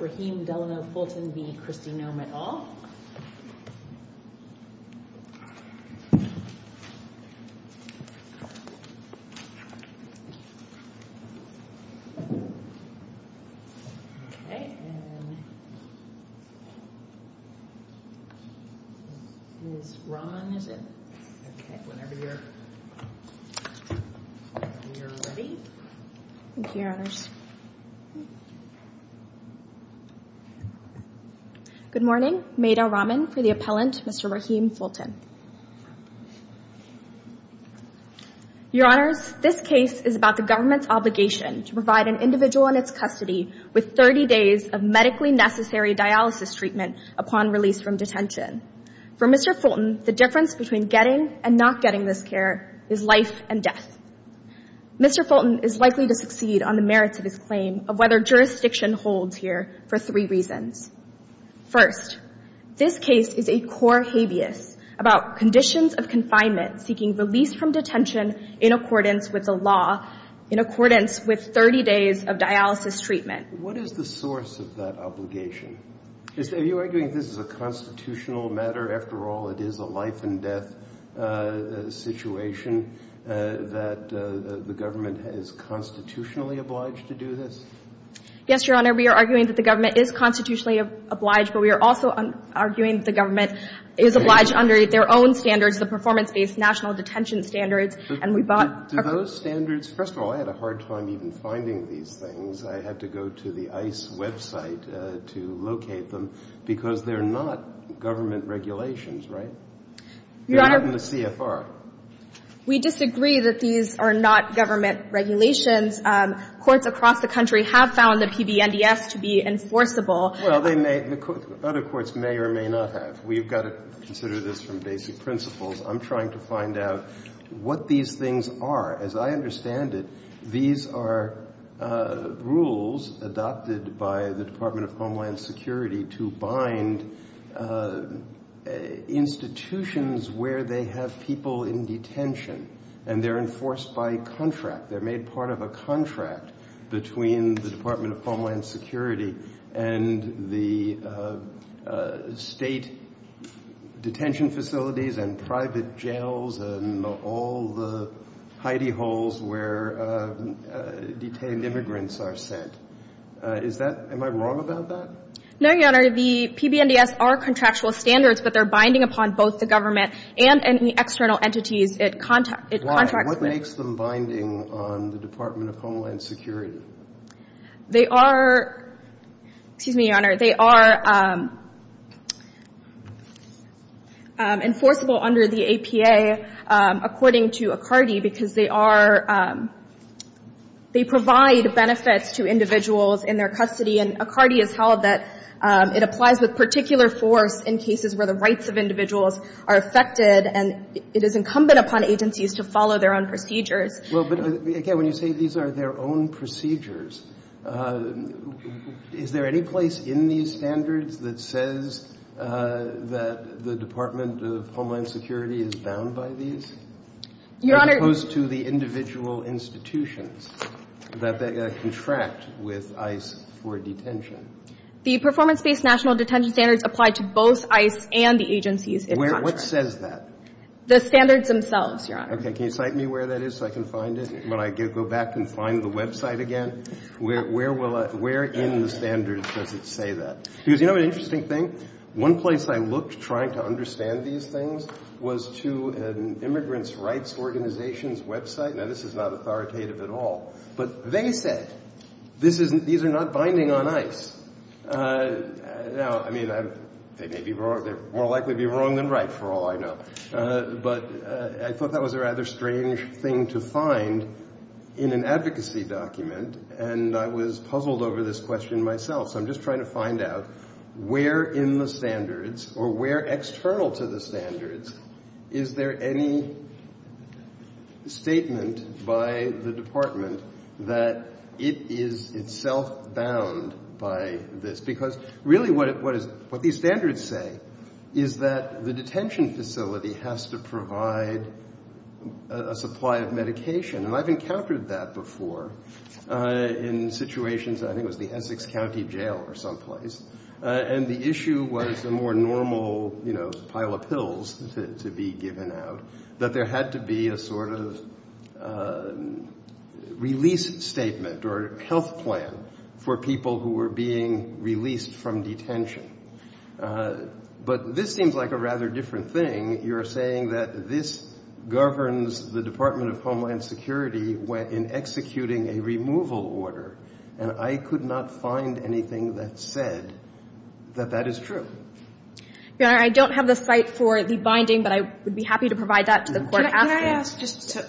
Rahim Delano Fulton v. Christy Noem et al. Good morning. Mayda Rahman for the appellant, Mr. Rahim Fulton. Your Honors, this case is about the government's obligation to provide an individual in its custody with 30 days of medically necessary dialysis treatment upon release from detention. For Mr. Fulton, the difference between getting and not getting this care is life and death. Mr. Fulton is likely to succeed on the merits of his claim of whether jurisdiction holds here for three reasons. First, this case is a core habeas about conditions of confinement seeking release from detention in accordance with the law, in accordance with 30 days of dialysis treatment. What is the source of that obligation? Are you arguing that this is a constitutional matter? After all, it is a life and death situation, that the government is constitutionally obliged to do this? Yes, Your Honor. We are arguing that the government is constitutionally obliged, but we are also arguing the government is obliged under their own standards, the performance-based national detention standards. Do those standards – first of all, I had a hard time even finding these things. I had to go to the ICE website to locate them, because they're not government regulations, right? They're not in the CFR. We disagree that these are not government regulations. Courts across the country have found the PBNDS to be enforceable. Well, they may – other courts may or may not have. We've got to consider this from basic principles. I'm trying to find out what these things are. As I understand it, these are rules adopted by the Department of Homeland Security to bind institutions where they have people in detention, and they're enforced by contract. They're made part of a contract between the Department of Homeland Security and the State detention facilities and private jails and all the hidey holes where detained immigrants are sent. Is that – am I wrong about that? No, Your Honor. The PBNDS are contractual standards, but they're binding upon both the government and any external entities it contracts with. What makes them binding on the Department of Homeland Security? They are – excuse me, Your Honor. They are enforceable under the APA, according to Accardi, because they are – they provide benefits to individuals in their custody. And Accardi has held that it applies with particular force in cases where the rights of individuals are affected, and it is incumbent upon agencies to follow their own procedures. Well, but again, when you say these are their own procedures, is there any place in these standards that says that the Department of Homeland Security is bound by these? Your Honor – The performance-based national detention standards apply to both ICE and the agencies it contracts with. What says that? The standards themselves, Your Honor. Okay. Can you cite me where that is so I can find it when I go back and find the website again? Where will I – where in the standards does it say that? Because you know an interesting thing? One place I looked trying to understand these things was to an immigrants' rights organization's website. Now, this is not authoritative at all, but they said these are not binding on ICE. Now, I mean, they may be – they're more likely to be wrong than right, for all I know. But I thought that was a rather strange thing to find in an advocacy document, and I was puzzled over this question myself. So I'm just trying to find out where in the standards or where external to the standards is there any statement by the department that it is itself bound by this? Because really what these standards say is that the detention facility has to provide a supply of medication. And I've encountered that before in situations – I think it was the Essex County Jail or someplace. And the issue was a more normal pile of pills to be given out, that there had to be a sort of release statement or health plan for people who were being released from detention. But this seems like a rather different thing. You're saying that this governs the Department of Homeland Security in executing a removal order. And I could not find anything that said that that is true. Your Honor, I don't have the site for the binding, but I would be happy to provide that to the court asking.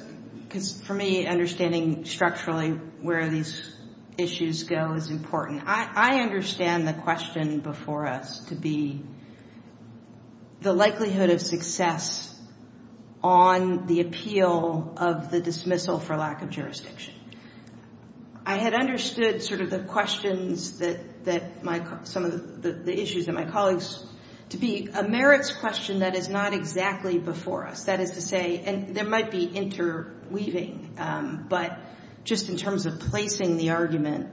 Because for me, understanding structurally where these issues go is important. I understand the question before us to be the likelihood of success on the appeal of the dismissal for lack of jurisdiction. I had understood sort of the questions that – some of the issues that my colleagues – to be a merits question that is not exactly before us. That is to say – and there might be interweaving. But just in terms of placing the argument,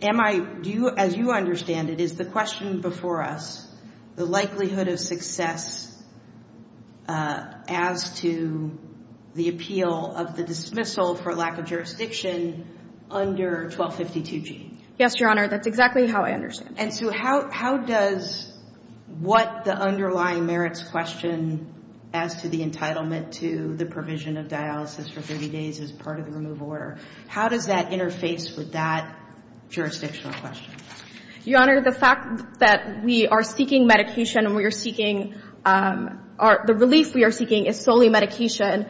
am I – do you – as you understand it, is the question before us the likelihood of success as to the appeal of the dismissal for lack of jurisdiction under 1252G? Yes, Your Honor. That's exactly how I understand it. And so how does what the underlying merits question as to the entitlement to the provision of dialysis for 30 days as part of the removal order, how does that interface with that jurisdictional question? Your Honor, the fact that we are seeking medication and we are seeking – the relief we are seeking is solely medication,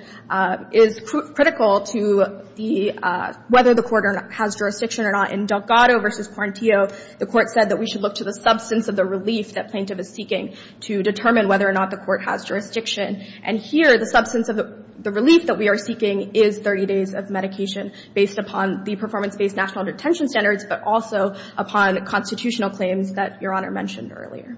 is critical to the – whether the court has jurisdiction or not. In Delgado v. Quarantio, the court said that we should look to the substance of the relief that plaintiff is seeking to determine whether or not the court has jurisdiction. And here, the substance of the relief that we are seeking is 30 days of medication based upon the performance-based national detention standards, but also upon constitutional claims that Your Honor mentioned earlier.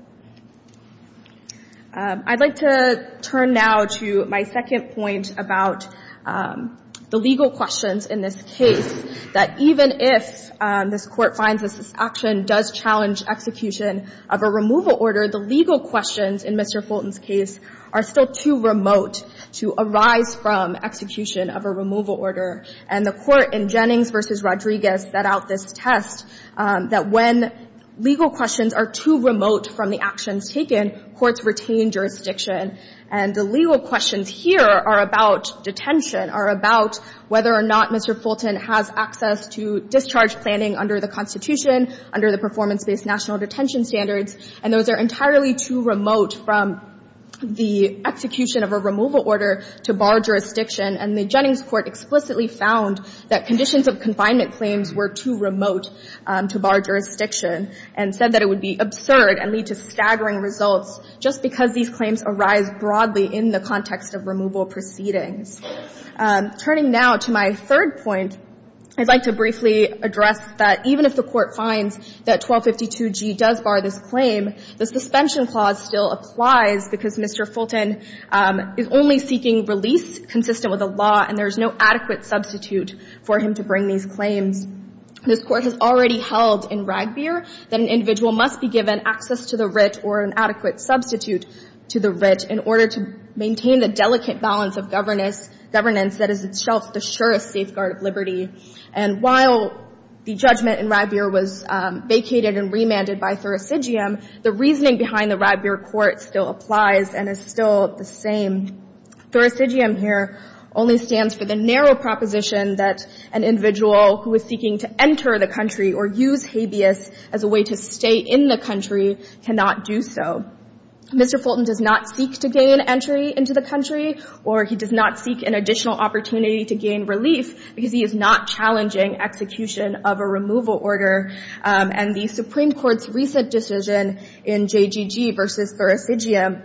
I'd like to turn now to my second point about the legal questions in this case, that even if this Court finds that this action does challenge execution of a removal order, the legal questions in Mr. Fulton's case are still too remote to arise from execution of a removal order. And the Court in Jennings v. Rodriguez set out this test, that when legal questions are too remote from the actions taken, courts retain jurisdiction. And the legal questions here are about detention, are about whether or not Mr. Fulton has access to discharge planning under the Constitution, under the performance-based national detention standards. And those are entirely too remote from the execution of a removal order to bar jurisdiction. And the Jennings Court explicitly found that conditions of confinement claims were too remote to bar jurisdiction, and said that it would be absurd and lead to staggering results just because these claims arise broadly in the context of removal proceedings. Turning now to my third point, I'd like to briefly address that even if the Court finds that 1252G does bar this claim, the suspension clause still applies because Mr. Fulton is only seeking release consistent with the law, and there is no adequate substitute for him to bring these claims. This Court has already held in Ragbeer that an individual must be given access to the writ or an adequate substitute to the writ in order to maintain the delicate balance of governance that is itself the surest safeguard of liberty. And while the judgment in Ragbeer was vacated and remanded by Thurisidgium, the reasoning behind the Ragbeer Court still applies and is still the same. Thurisidgium here only stands for the narrow proposition that an individual who is seeking to enter the country or use habeas as a way to stay in the country cannot do so. Mr. Fulton does not seek to gain entry into the country, or he does not seek an additional opportunity to gain relief because he is not challenging execution of a removal order. And the Supreme Court's recent decision in JGG versus Thurisidgium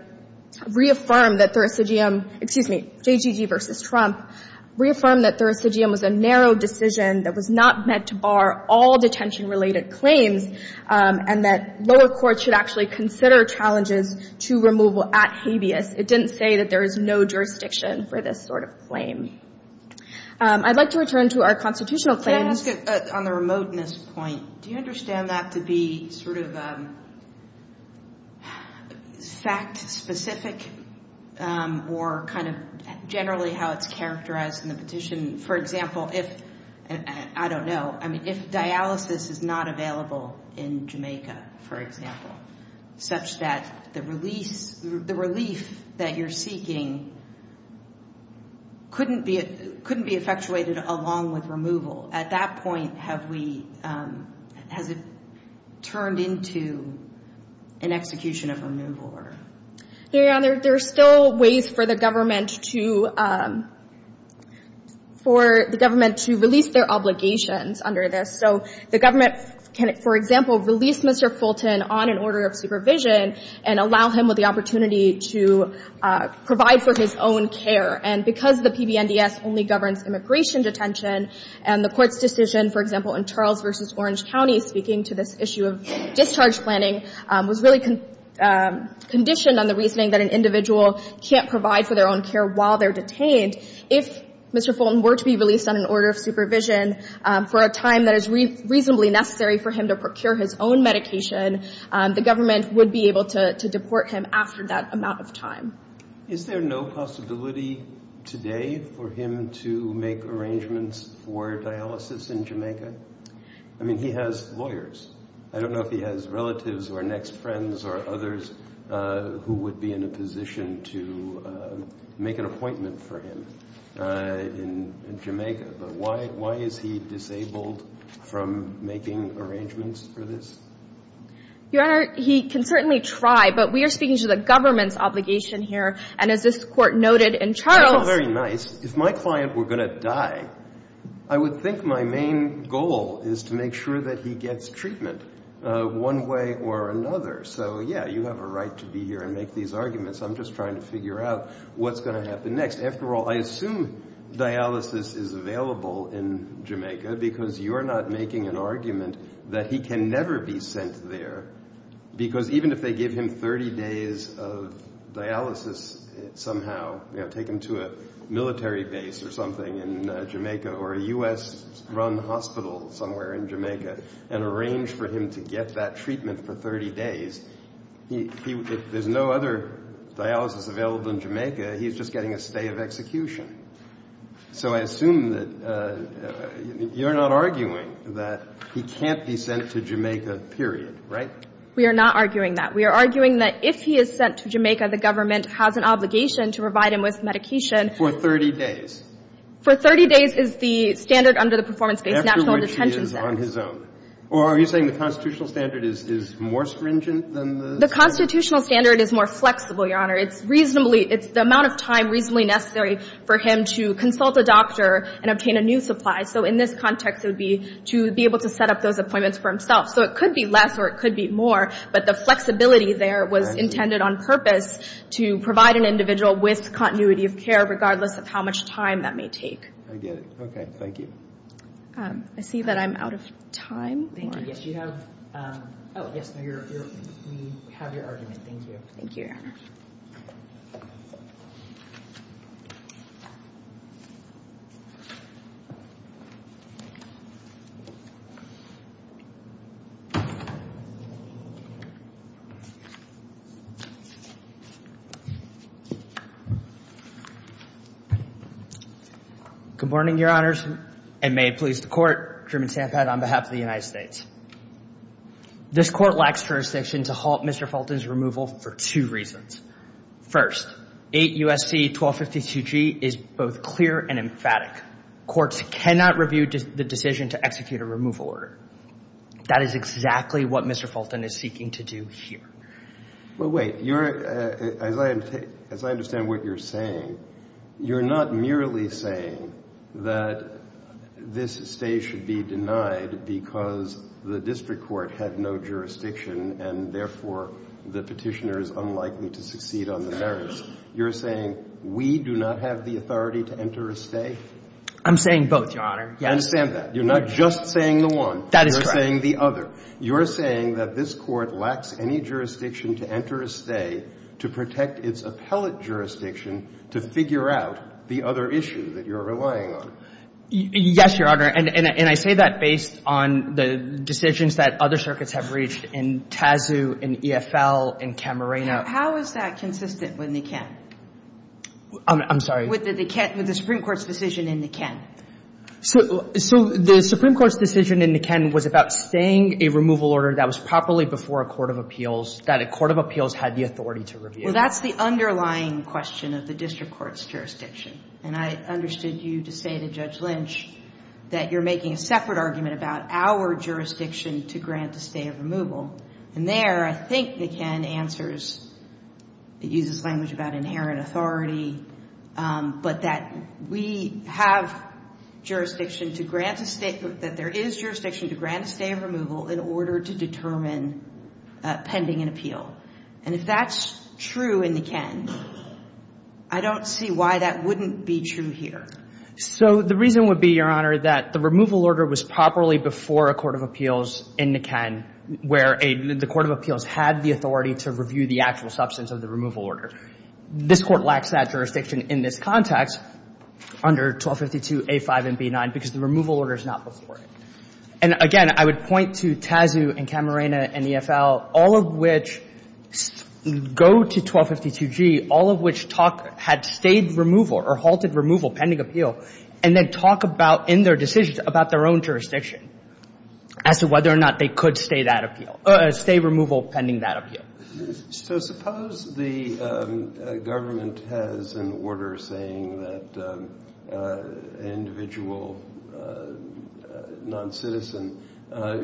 reaffirmed that Thurisidgium — excuse me, JGG versus Trump — reaffirmed that Thurisidgium was a narrow decision that was not meant to bar all detention-related claims and that lower courts should actually consider challenges to removal at habeas. It didn't say that there is no jurisdiction for this sort of claim. I'd like to return to our constitutional claims. On the remoteness point, do you understand that to be sort of fact-specific or kind of generally how it's characterized in the petition? I don't know. I mean, if dialysis is not available in Jamaica, for example, such that the relief that you're seeking couldn't be effectuated along with removal, at that point, has it turned into an execution of removal order? There are still ways for the government to — for the government to release their obligations under this. So the government can, for example, release Mr. Fulton on an order of supervision and allow him with the opportunity to provide for his own care. And because the PBNDS only governs immigration detention and the Court's decision, for example, in Charles v. Orange County, speaking to this issue of discharge planning, was really conditioned on the reasoning that an individual can't provide for their own care while they're detained. If Mr. Fulton were to be released on an order of supervision for a time that is reasonably necessary for him to procure his own medication, the government would be able to deport him after that amount of time. Is there no possibility today for him to make arrangements for dialysis in Jamaica? I mean, he has lawyers. I don't know if he has relatives or next friends or others who would be in a position to make an appointment for him in Jamaica. But why is he disabled from making arrangements for this? Your Honor, he can certainly try, but we are speaking to the government's obligation here. And as this Court noted in Charles — That's very nice. If my client were going to die, I would think my main goal is to make sure that he gets treatment one way or another. So, yeah, you have a right to be here and make these arguments. I'm just trying to figure out what's going to happen next. After all, I assume dialysis is available in Jamaica because you're not making an argument that he can never be sent there. Because even if they give him 30 days of dialysis somehow, take him to a military base or something in Jamaica or a U.S.-run hospital somewhere in Jamaica and arrange for him to get that treatment for 30 days, there's no other dialysis available in Jamaica. He's just getting a stay of execution. So I assume that you're not arguing that he can't be sent to Jamaica, period, right? We are not arguing that. We are arguing that if he is sent to Jamaica, the government has an obligation to provide him with medication — For 30 days. For 30 days is the standard under the performance-based national detention system. After which he is on his own. Or are you saying the constitutional standard is more stringent than the — The constitutional standard is more flexible, Your Honor. It's the amount of time reasonably necessary for him to consult a doctor and obtain a new supply. So in this context, it would be to be able to set up those appointments for himself. So it could be less or it could be more. But the flexibility there was intended on purpose to provide an individual with continuity of care regardless of how much time that may take. I get it. Okay. Thank you. I see that I'm out of time. Thank you. Yes, you have — Oh, yes. We have your argument. Thank you. Thank you, Your Honor. Good morning, Your Honors. And may it please the Court, Truman Stampad on behalf of the United States. This Court lacks jurisdiction to halt Mr. Fulton's removal for two reasons. First, 8 U.S.C. 1252G is both clear and emphatic. Courts cannot review the decision to execute a removal order. That is exactly what Mr. Fulton is seeking to do here. Well, wait. As I understand what you're saying, you're not merely saying that this stay should be denied because the district court had no jurisdiction and, therefore, the petitioner is unlikely to succeed on the merits. You're saying we do not have the authority to enter a stay? I'm saying both, Your Honor. I understand that. You're not just saying the one. That is correct. You're saying the other. You're saying that this Court lacks any jurisdiction to enter a stay to protect its appellate jurisdiction to figure out the other issue that you're relying on. Yes, Your Honor. And I say that based on the decisions that other circuits have reached in TASU and EFL and Camarena. How is that consistent with Niken? I'm sorry? With the Supreme Court's decision in Niken. So the Supreme Court's decision in Niken was about staying a removal order that was properly before a court of appeals, that a court of appeals had the authority to review. Well, that's the underlying question of the district court's jurisdiction. And I understood you to say to Judge Lynch that you're making a separate argument about our jurisdiction to grant a stay of removal. And there, I think Niken answers, it uses language about inherent authority, but that we have jurisdiction to grant a stay, that there is jurisdiction to grant a stay of removal in order to determine pending an appeal. And if that's true in Niken, I don't see why that wouldn't be true here. So the reason would be, Your Honor, that the removal order was properly before a court of appeals in Niken where the court of appeals had the authority to review the actual substance of the removal order. This Court lacks that jurisdiction in this context under 1252a5 and b9 because the removal order is not before it. And, again, I would point to TASU and Camarena and EFL, all of which go to 1252g, all of which talk had stayed removal or halted removal pending appeal, and then talk about in their decisions about their own jurisdiction as to whether or not they could stay that appeal, stay removal pending that appeal. So suppose the government has an order saying that an individual noncitizen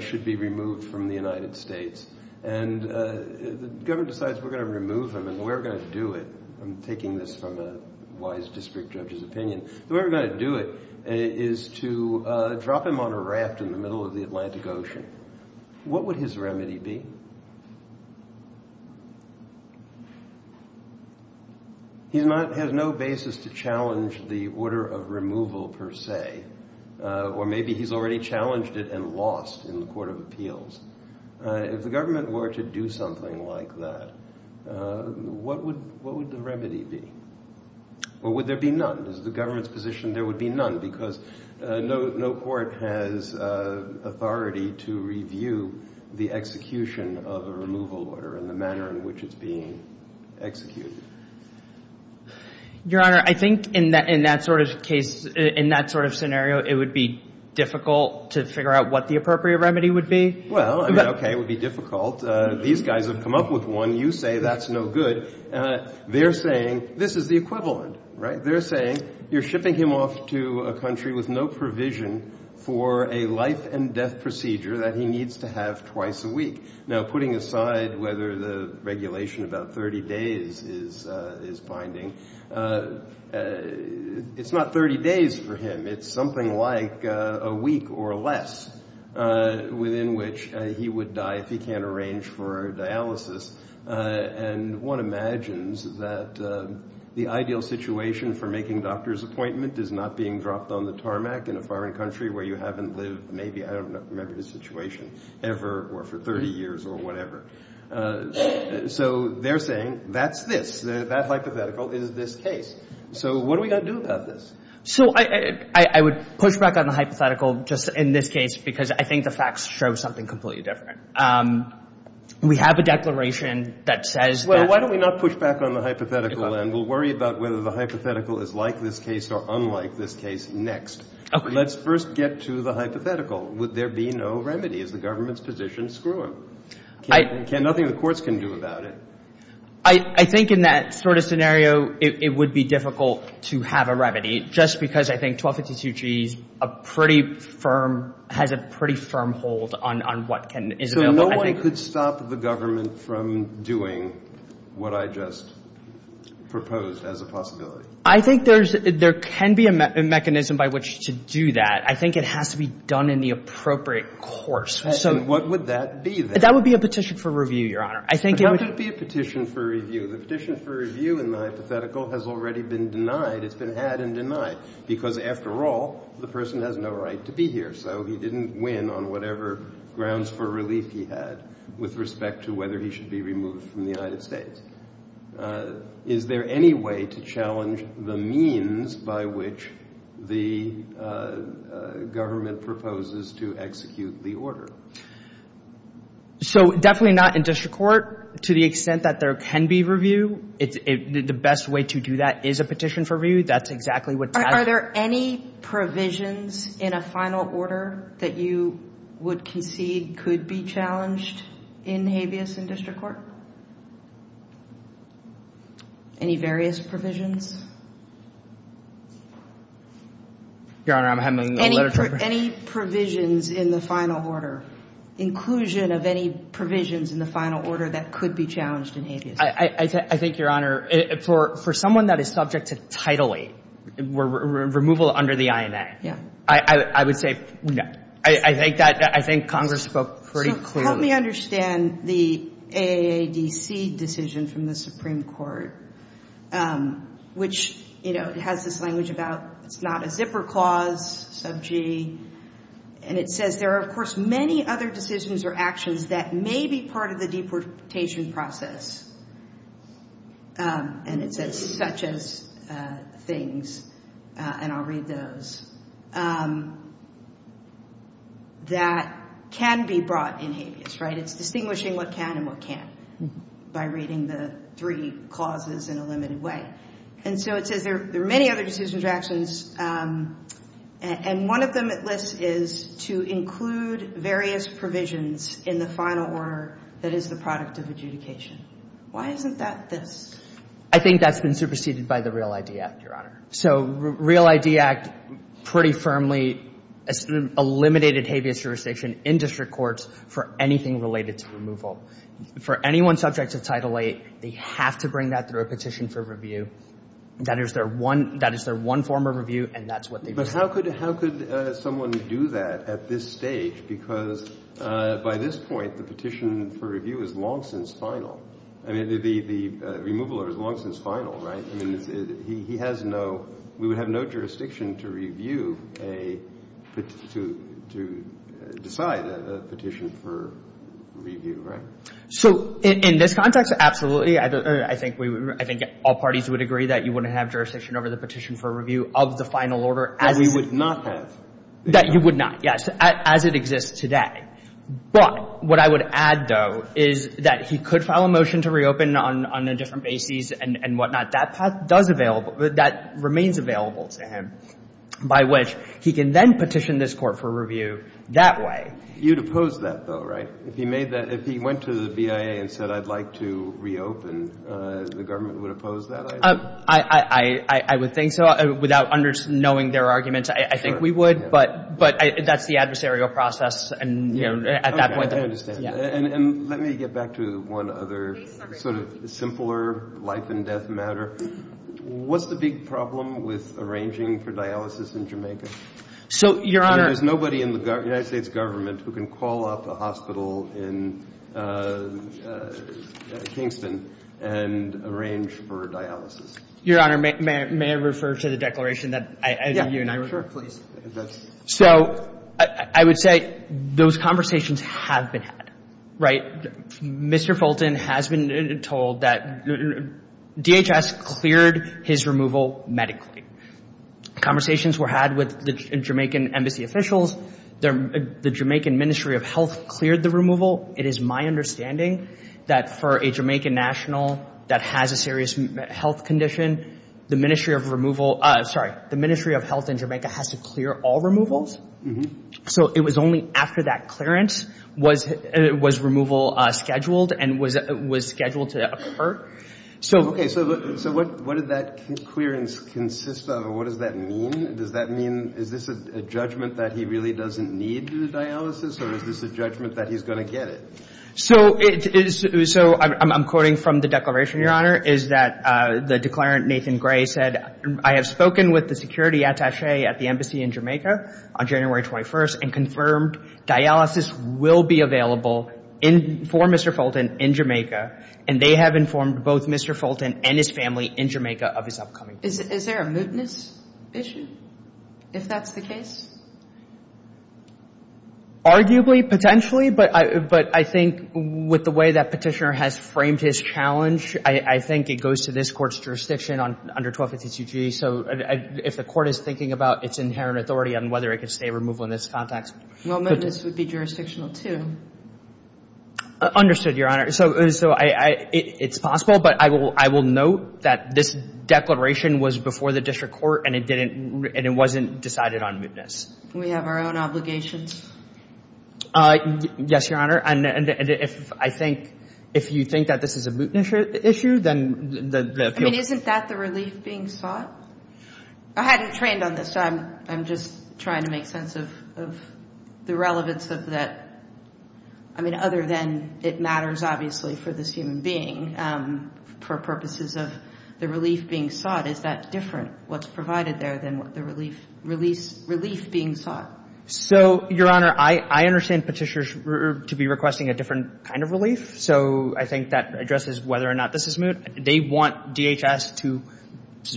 should be removed from the United States. And the government decides we're going to remove him and the way we're going to do it, I'm taking this from a wise district judge's opinion, the way we're going to do it is to drop him on a raft in the middle of the Atlantic Ocean. What would his remedy be? He has no basis to challenge the order of removal per se, or maybe he's already challenged it and lost in the court of appeals. If the government were to do something like that, what would the remedy be? Or would there be none? Is the government's position there would be none because no court has authority to review the execution of a removal order and the manner in which it's being executed? Your Honor, I think in that sort of case, in that sort of scenario, it would be difficult to figure out what the appropriate remedy would be. Well, I mean, okay, it would be difficult. These guys have come up with one. You say that's no good. They're saying this is the equivalent, right? They're saying you're shipping him off to a country with no provision for a life and death procedure that he needs to have twice a week. Now, putting aside whether the regulation about 30 days is binding, it's not 30 days for him. It's something like a week or less within which he would die if he can't arrange for a dialysis. And one imagines that the ideal situation for making doctor's appointment is not being dropped on the tarmac in a foreign country where you haven't lived, maybe, I don't remember the situation, ever or for 30 years or whatever. So they're saying that's this. That hypothetical is this case. So what are we going to do about this? So I would push back on the hypothetical just in this case because I think the facts show something completely different. We have a declaration that says that — Well, why don't we not push back on the hypothetical, and we'll worry about whether the hypothetical is like this case or unlike this case next. Okay. Let's first get to the hypothetical. Would there be no remedy? Is the government's position screw-up? Nothing the courts can do about it. I think in that sort of scenario, it would be difficult to have a remedy just because I think 1252G is a pretty firm — has a pretty firm hold on what can — So no one could stop the government from doing what I just proposed as a possibility? I think there's — there can be a mechanism by which to do that. I think it has to be done in the appropriate course. What would that be, then? That would be a petition for review, Your Honor. I think it would — How could it be a petition for review? The petition for review in the hypothetical has already been denied. It's been had and denied because, after all, the person has no right to be here. So he didn't win on whatever grounds for relief he had with respect to whether he should be removed from the United States. Is there any way to challenge the means by which the government proposes to execute the order? So definitely not in district court to the extent that there can be review. The best way to do that is a petition for review. That's exactly what that — Are there any provisions in a final order that you would concede could be challenged in habeas in district court? Any various provisions? Your Honor, I'm having a letter from — Any provisions in the final order, inclusion of any provisions in the final order that could be challenged in habeas? I think, Your Honor, for someone that is subject to titillate, removal under the INA — Yeah. I would say no. I think that — I think Congress spoke pretty clearly. Help me understand the AADC decision from the Supreme Court, which, you know, has this language about it's not a zipper clause, sub G. And it says there are, of course, many other decisions or actions that may be part of the deportation process. And it says such as things, and I'll read those, that can be brought in habeas, right? It's distinguishing what can and what can't by reading the three clauses in a limited way. And so it says there are many other decisions or actions, and one of them it lists is to include various provisions in the final order that is the product of adjudication. Why isn't that this? I think that's been superseded by the REAL ID Act, Your Honor. So REAL ID Act pretty firmly eliminated habeas jurisdiction in district courts for anything related to removal. For anyone subject to Title VIII, they have to bring that through a petition for review. That is their one — that is their one form of review, and that's what they've done. But how could — how could someone do that at this stage? Because by this point, the petition for review is long since final. I mean, the removal order is long since final, right? I mean, he has no — we would have no jurisdiction to review a — to decide a petition for review, right? So in this context, absolutely. I think we — I think all parties would agree that you wouldn't have jurisdiction over the petition for review of the final order as — That we would not have. That you would not, yes, as it exists today. But what I would add, though, is that he could file a motion to reopen on a different basis and whatnot. That path does available — that remains available to him by which he can then petition this Court for review that way. You'd oppose that, though, right? If he made that — if he went to the BIA and said, I'd like to reopen, the government would oppose that, I assume? I would think so. Without knowing their arguments, I think we would. But that's the adversarial process. And, you know, at that point — Okay, I understand. And let me get back to one other sort of simpler life-and-death matter. What's the big problem with arranging for dialysis in Jamaica? So, Your Honor — There's nobody in the United States government who can call up a hospital in Kingston and arrange for dialysis. Your Honor, may I refer to the declaration that I — Yeah, sure. So I would say those conversations have been had, right? Mr. Fulton has been told that DHS cleared his removal medically. Conversations were had with the Jamaican embassy officials. The Jamaican Ministry of Health cleared the removal. It is my understanding that for a Jamaican national that has a serious health condition, the Ministry of Health in Jamaica has to clear all removals. So it was only after that clearance was removal scheduled and was scheduled to occur. Okay, so what did that clearance consist of? What does that mean? Does that mean — is this a judgment that he really doesn't need dialysis, or is this a judgment that he's going to get it? So I'm quoting from the declaration, Your Honor, is that the declarant, Nathan Gray, said, I have spoken with the security attaché at the embassy in Jamaica on January 21st and confirmed dialysis will be available for Mr. Fulton in Jamaica, and they have informed both Mr. Fulton and his family in Jamaica of his upcoming — Is there a mootness issue, if that's the case? Arguably, potentially, but I think with the way that Petitioner has framed his challenge, I think it goes to this Court's jurisdiction under 1252G. So if the Court is thinking about its inherent authority on whether it can stay removal in this context — Well, mootness would be jurisdictional, too. Understood, Your Honor. So it's possible, but I will note that this declaration was before the district court and it didn't — and it wasn't decided on mootness. We have our own obligations. Yes, Your Honor. And if I think — if you think that this is a mootness issue, then the appeal — I mean, isn't that the relief being sought? I hadn't trained on this, so I'm just trying to make sense of the relevance of that. I mean, other than it matters, obviously, for this human being, for purposes of the relief being sought, is that different, what's provided there, than the relief being sought? So, Your Honor, I understand Petitioner to be requesting a different kind of relief. So I think that addresses whether or not this is moot. They want DHS to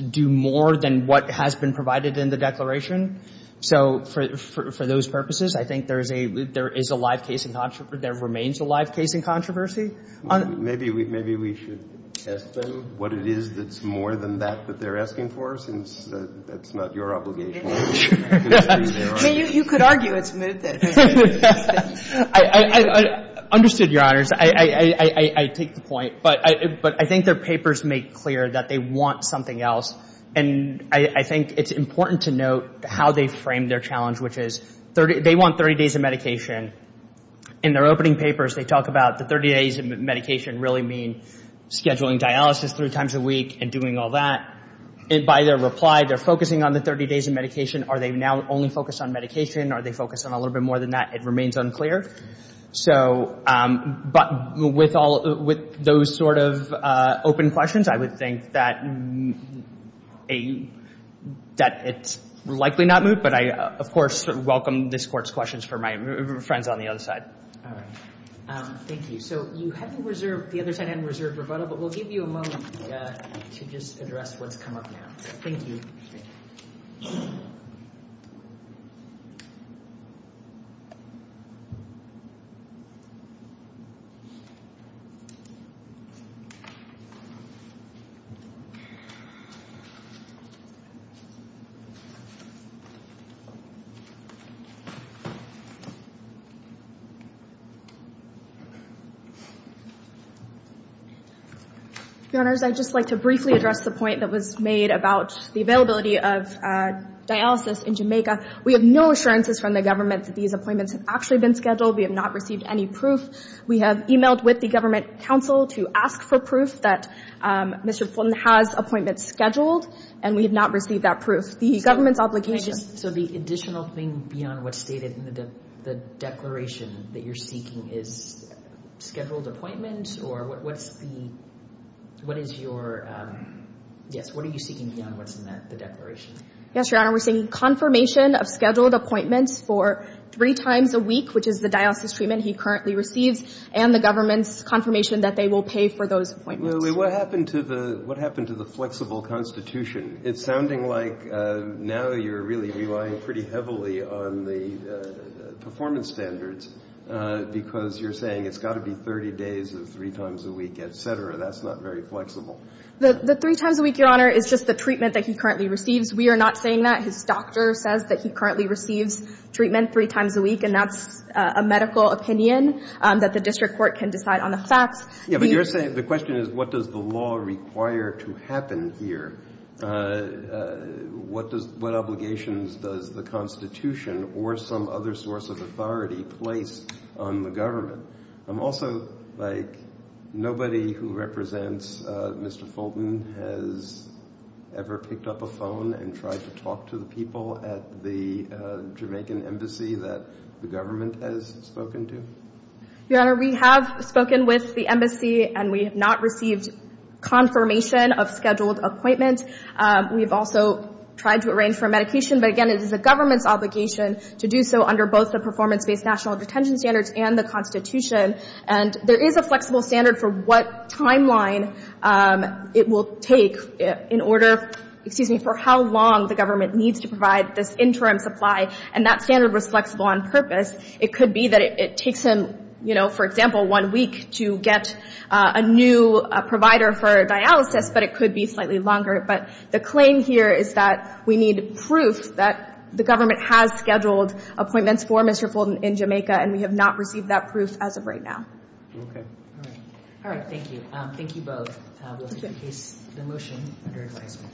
do more than what has been provided in the declaration. So for those purposes, I think there is a live case in — there remains a live case in controversy. Maybe we should ask them what it is that's more than that that they're asking for, since that's not your obligation. I mean, you could argue it's mootness. I understood, Your Honors. I take the point. But I think their papers make clear that they want something else. And I think it's important to note how they frame their challenge, which is they want 30 days of medication. In their opening papers, they talk about the 30 days of medication really mean scheduling dialysis three times a week and doing all that. And by their reply, they're focusing on the 30 days of medication. Are they now only focused on medication? Are they focused on a little bit more than that? It remains unclear. But with those sort of open questions, I would think that it's likely not moot. But I, of course, welcome this Court's questions for my friends on the other side. All right. Thank you. So you haven't reserved — the other side hadn't reserved rebuttal, but we'll give you a moment to just address what's come up now. Thank you. Your Honors, I'd just like to briefly address the point that was made about the availability of dialysis in Jamaica. We have no assurances from the government that these appointments have actually been scheduled. We have not received any proof. We have emailed with the Government Council to ask for proof that Mr. Fulton has appointments scheduled, and we have not received that proof. The government's obligation — So if you could just — so if you could just — Is there any additional thing beyond what's stated in the declaration that you're seeking? Is it scheduled appointments? Or what's the — what is your — yes, what are you seeking beyond what's in the declaration? Yes, Your Honor, we're seeking confirmation of scheduled appointments for three times a week, which is the dialysis treatment he currently receives, and the government's confirmation that they will pay for those appointments. What happened to the flexible constitution? It's sounding like now you're really relying pretty heavily on the performance standards because you're saying it's got to be 30 days of three times a week, et cetera. That's not very flexible. The three times a week, Your Honor, is just the treatment that he currently receives. We are not saying that. His doctor says that he currently receives treatment three times a week, and that's a medical opinion that the district court can decide on the facts. Yes, but you're saying — the question is what does the law require to happen here? What does — what obligations does the constitution or some other source of authority place on the government? Also, like, nobody who represents Mr. Fulton has ever picked up a phone and tried to talk to the people at the Jamaican embassy that the government has spoken to? Your Honor, we have spoken with the embassy, and we have not received confirmation of scheduled appointments. We have also tried to arrange for medication, but, again, it is the government's obligation to do so under both the performance-based national detention standards and the constitution. And there is a flexible standard for what timeline it will take in order — excuse me, for how long the government needs to provide this interim supply, and that standard was flexible on purpose. It could be that it takes him, you know, for example, one week to get a new provider for dialysis, but it could be slightly longer. But the claim here is that we need proof that the government has scheduled appointments for Mr. Fulton in Jamaica, and we have not received that proof as of right now. Okay. All right. All right. Thank you. Thank you both. We'll take the motion under advisement.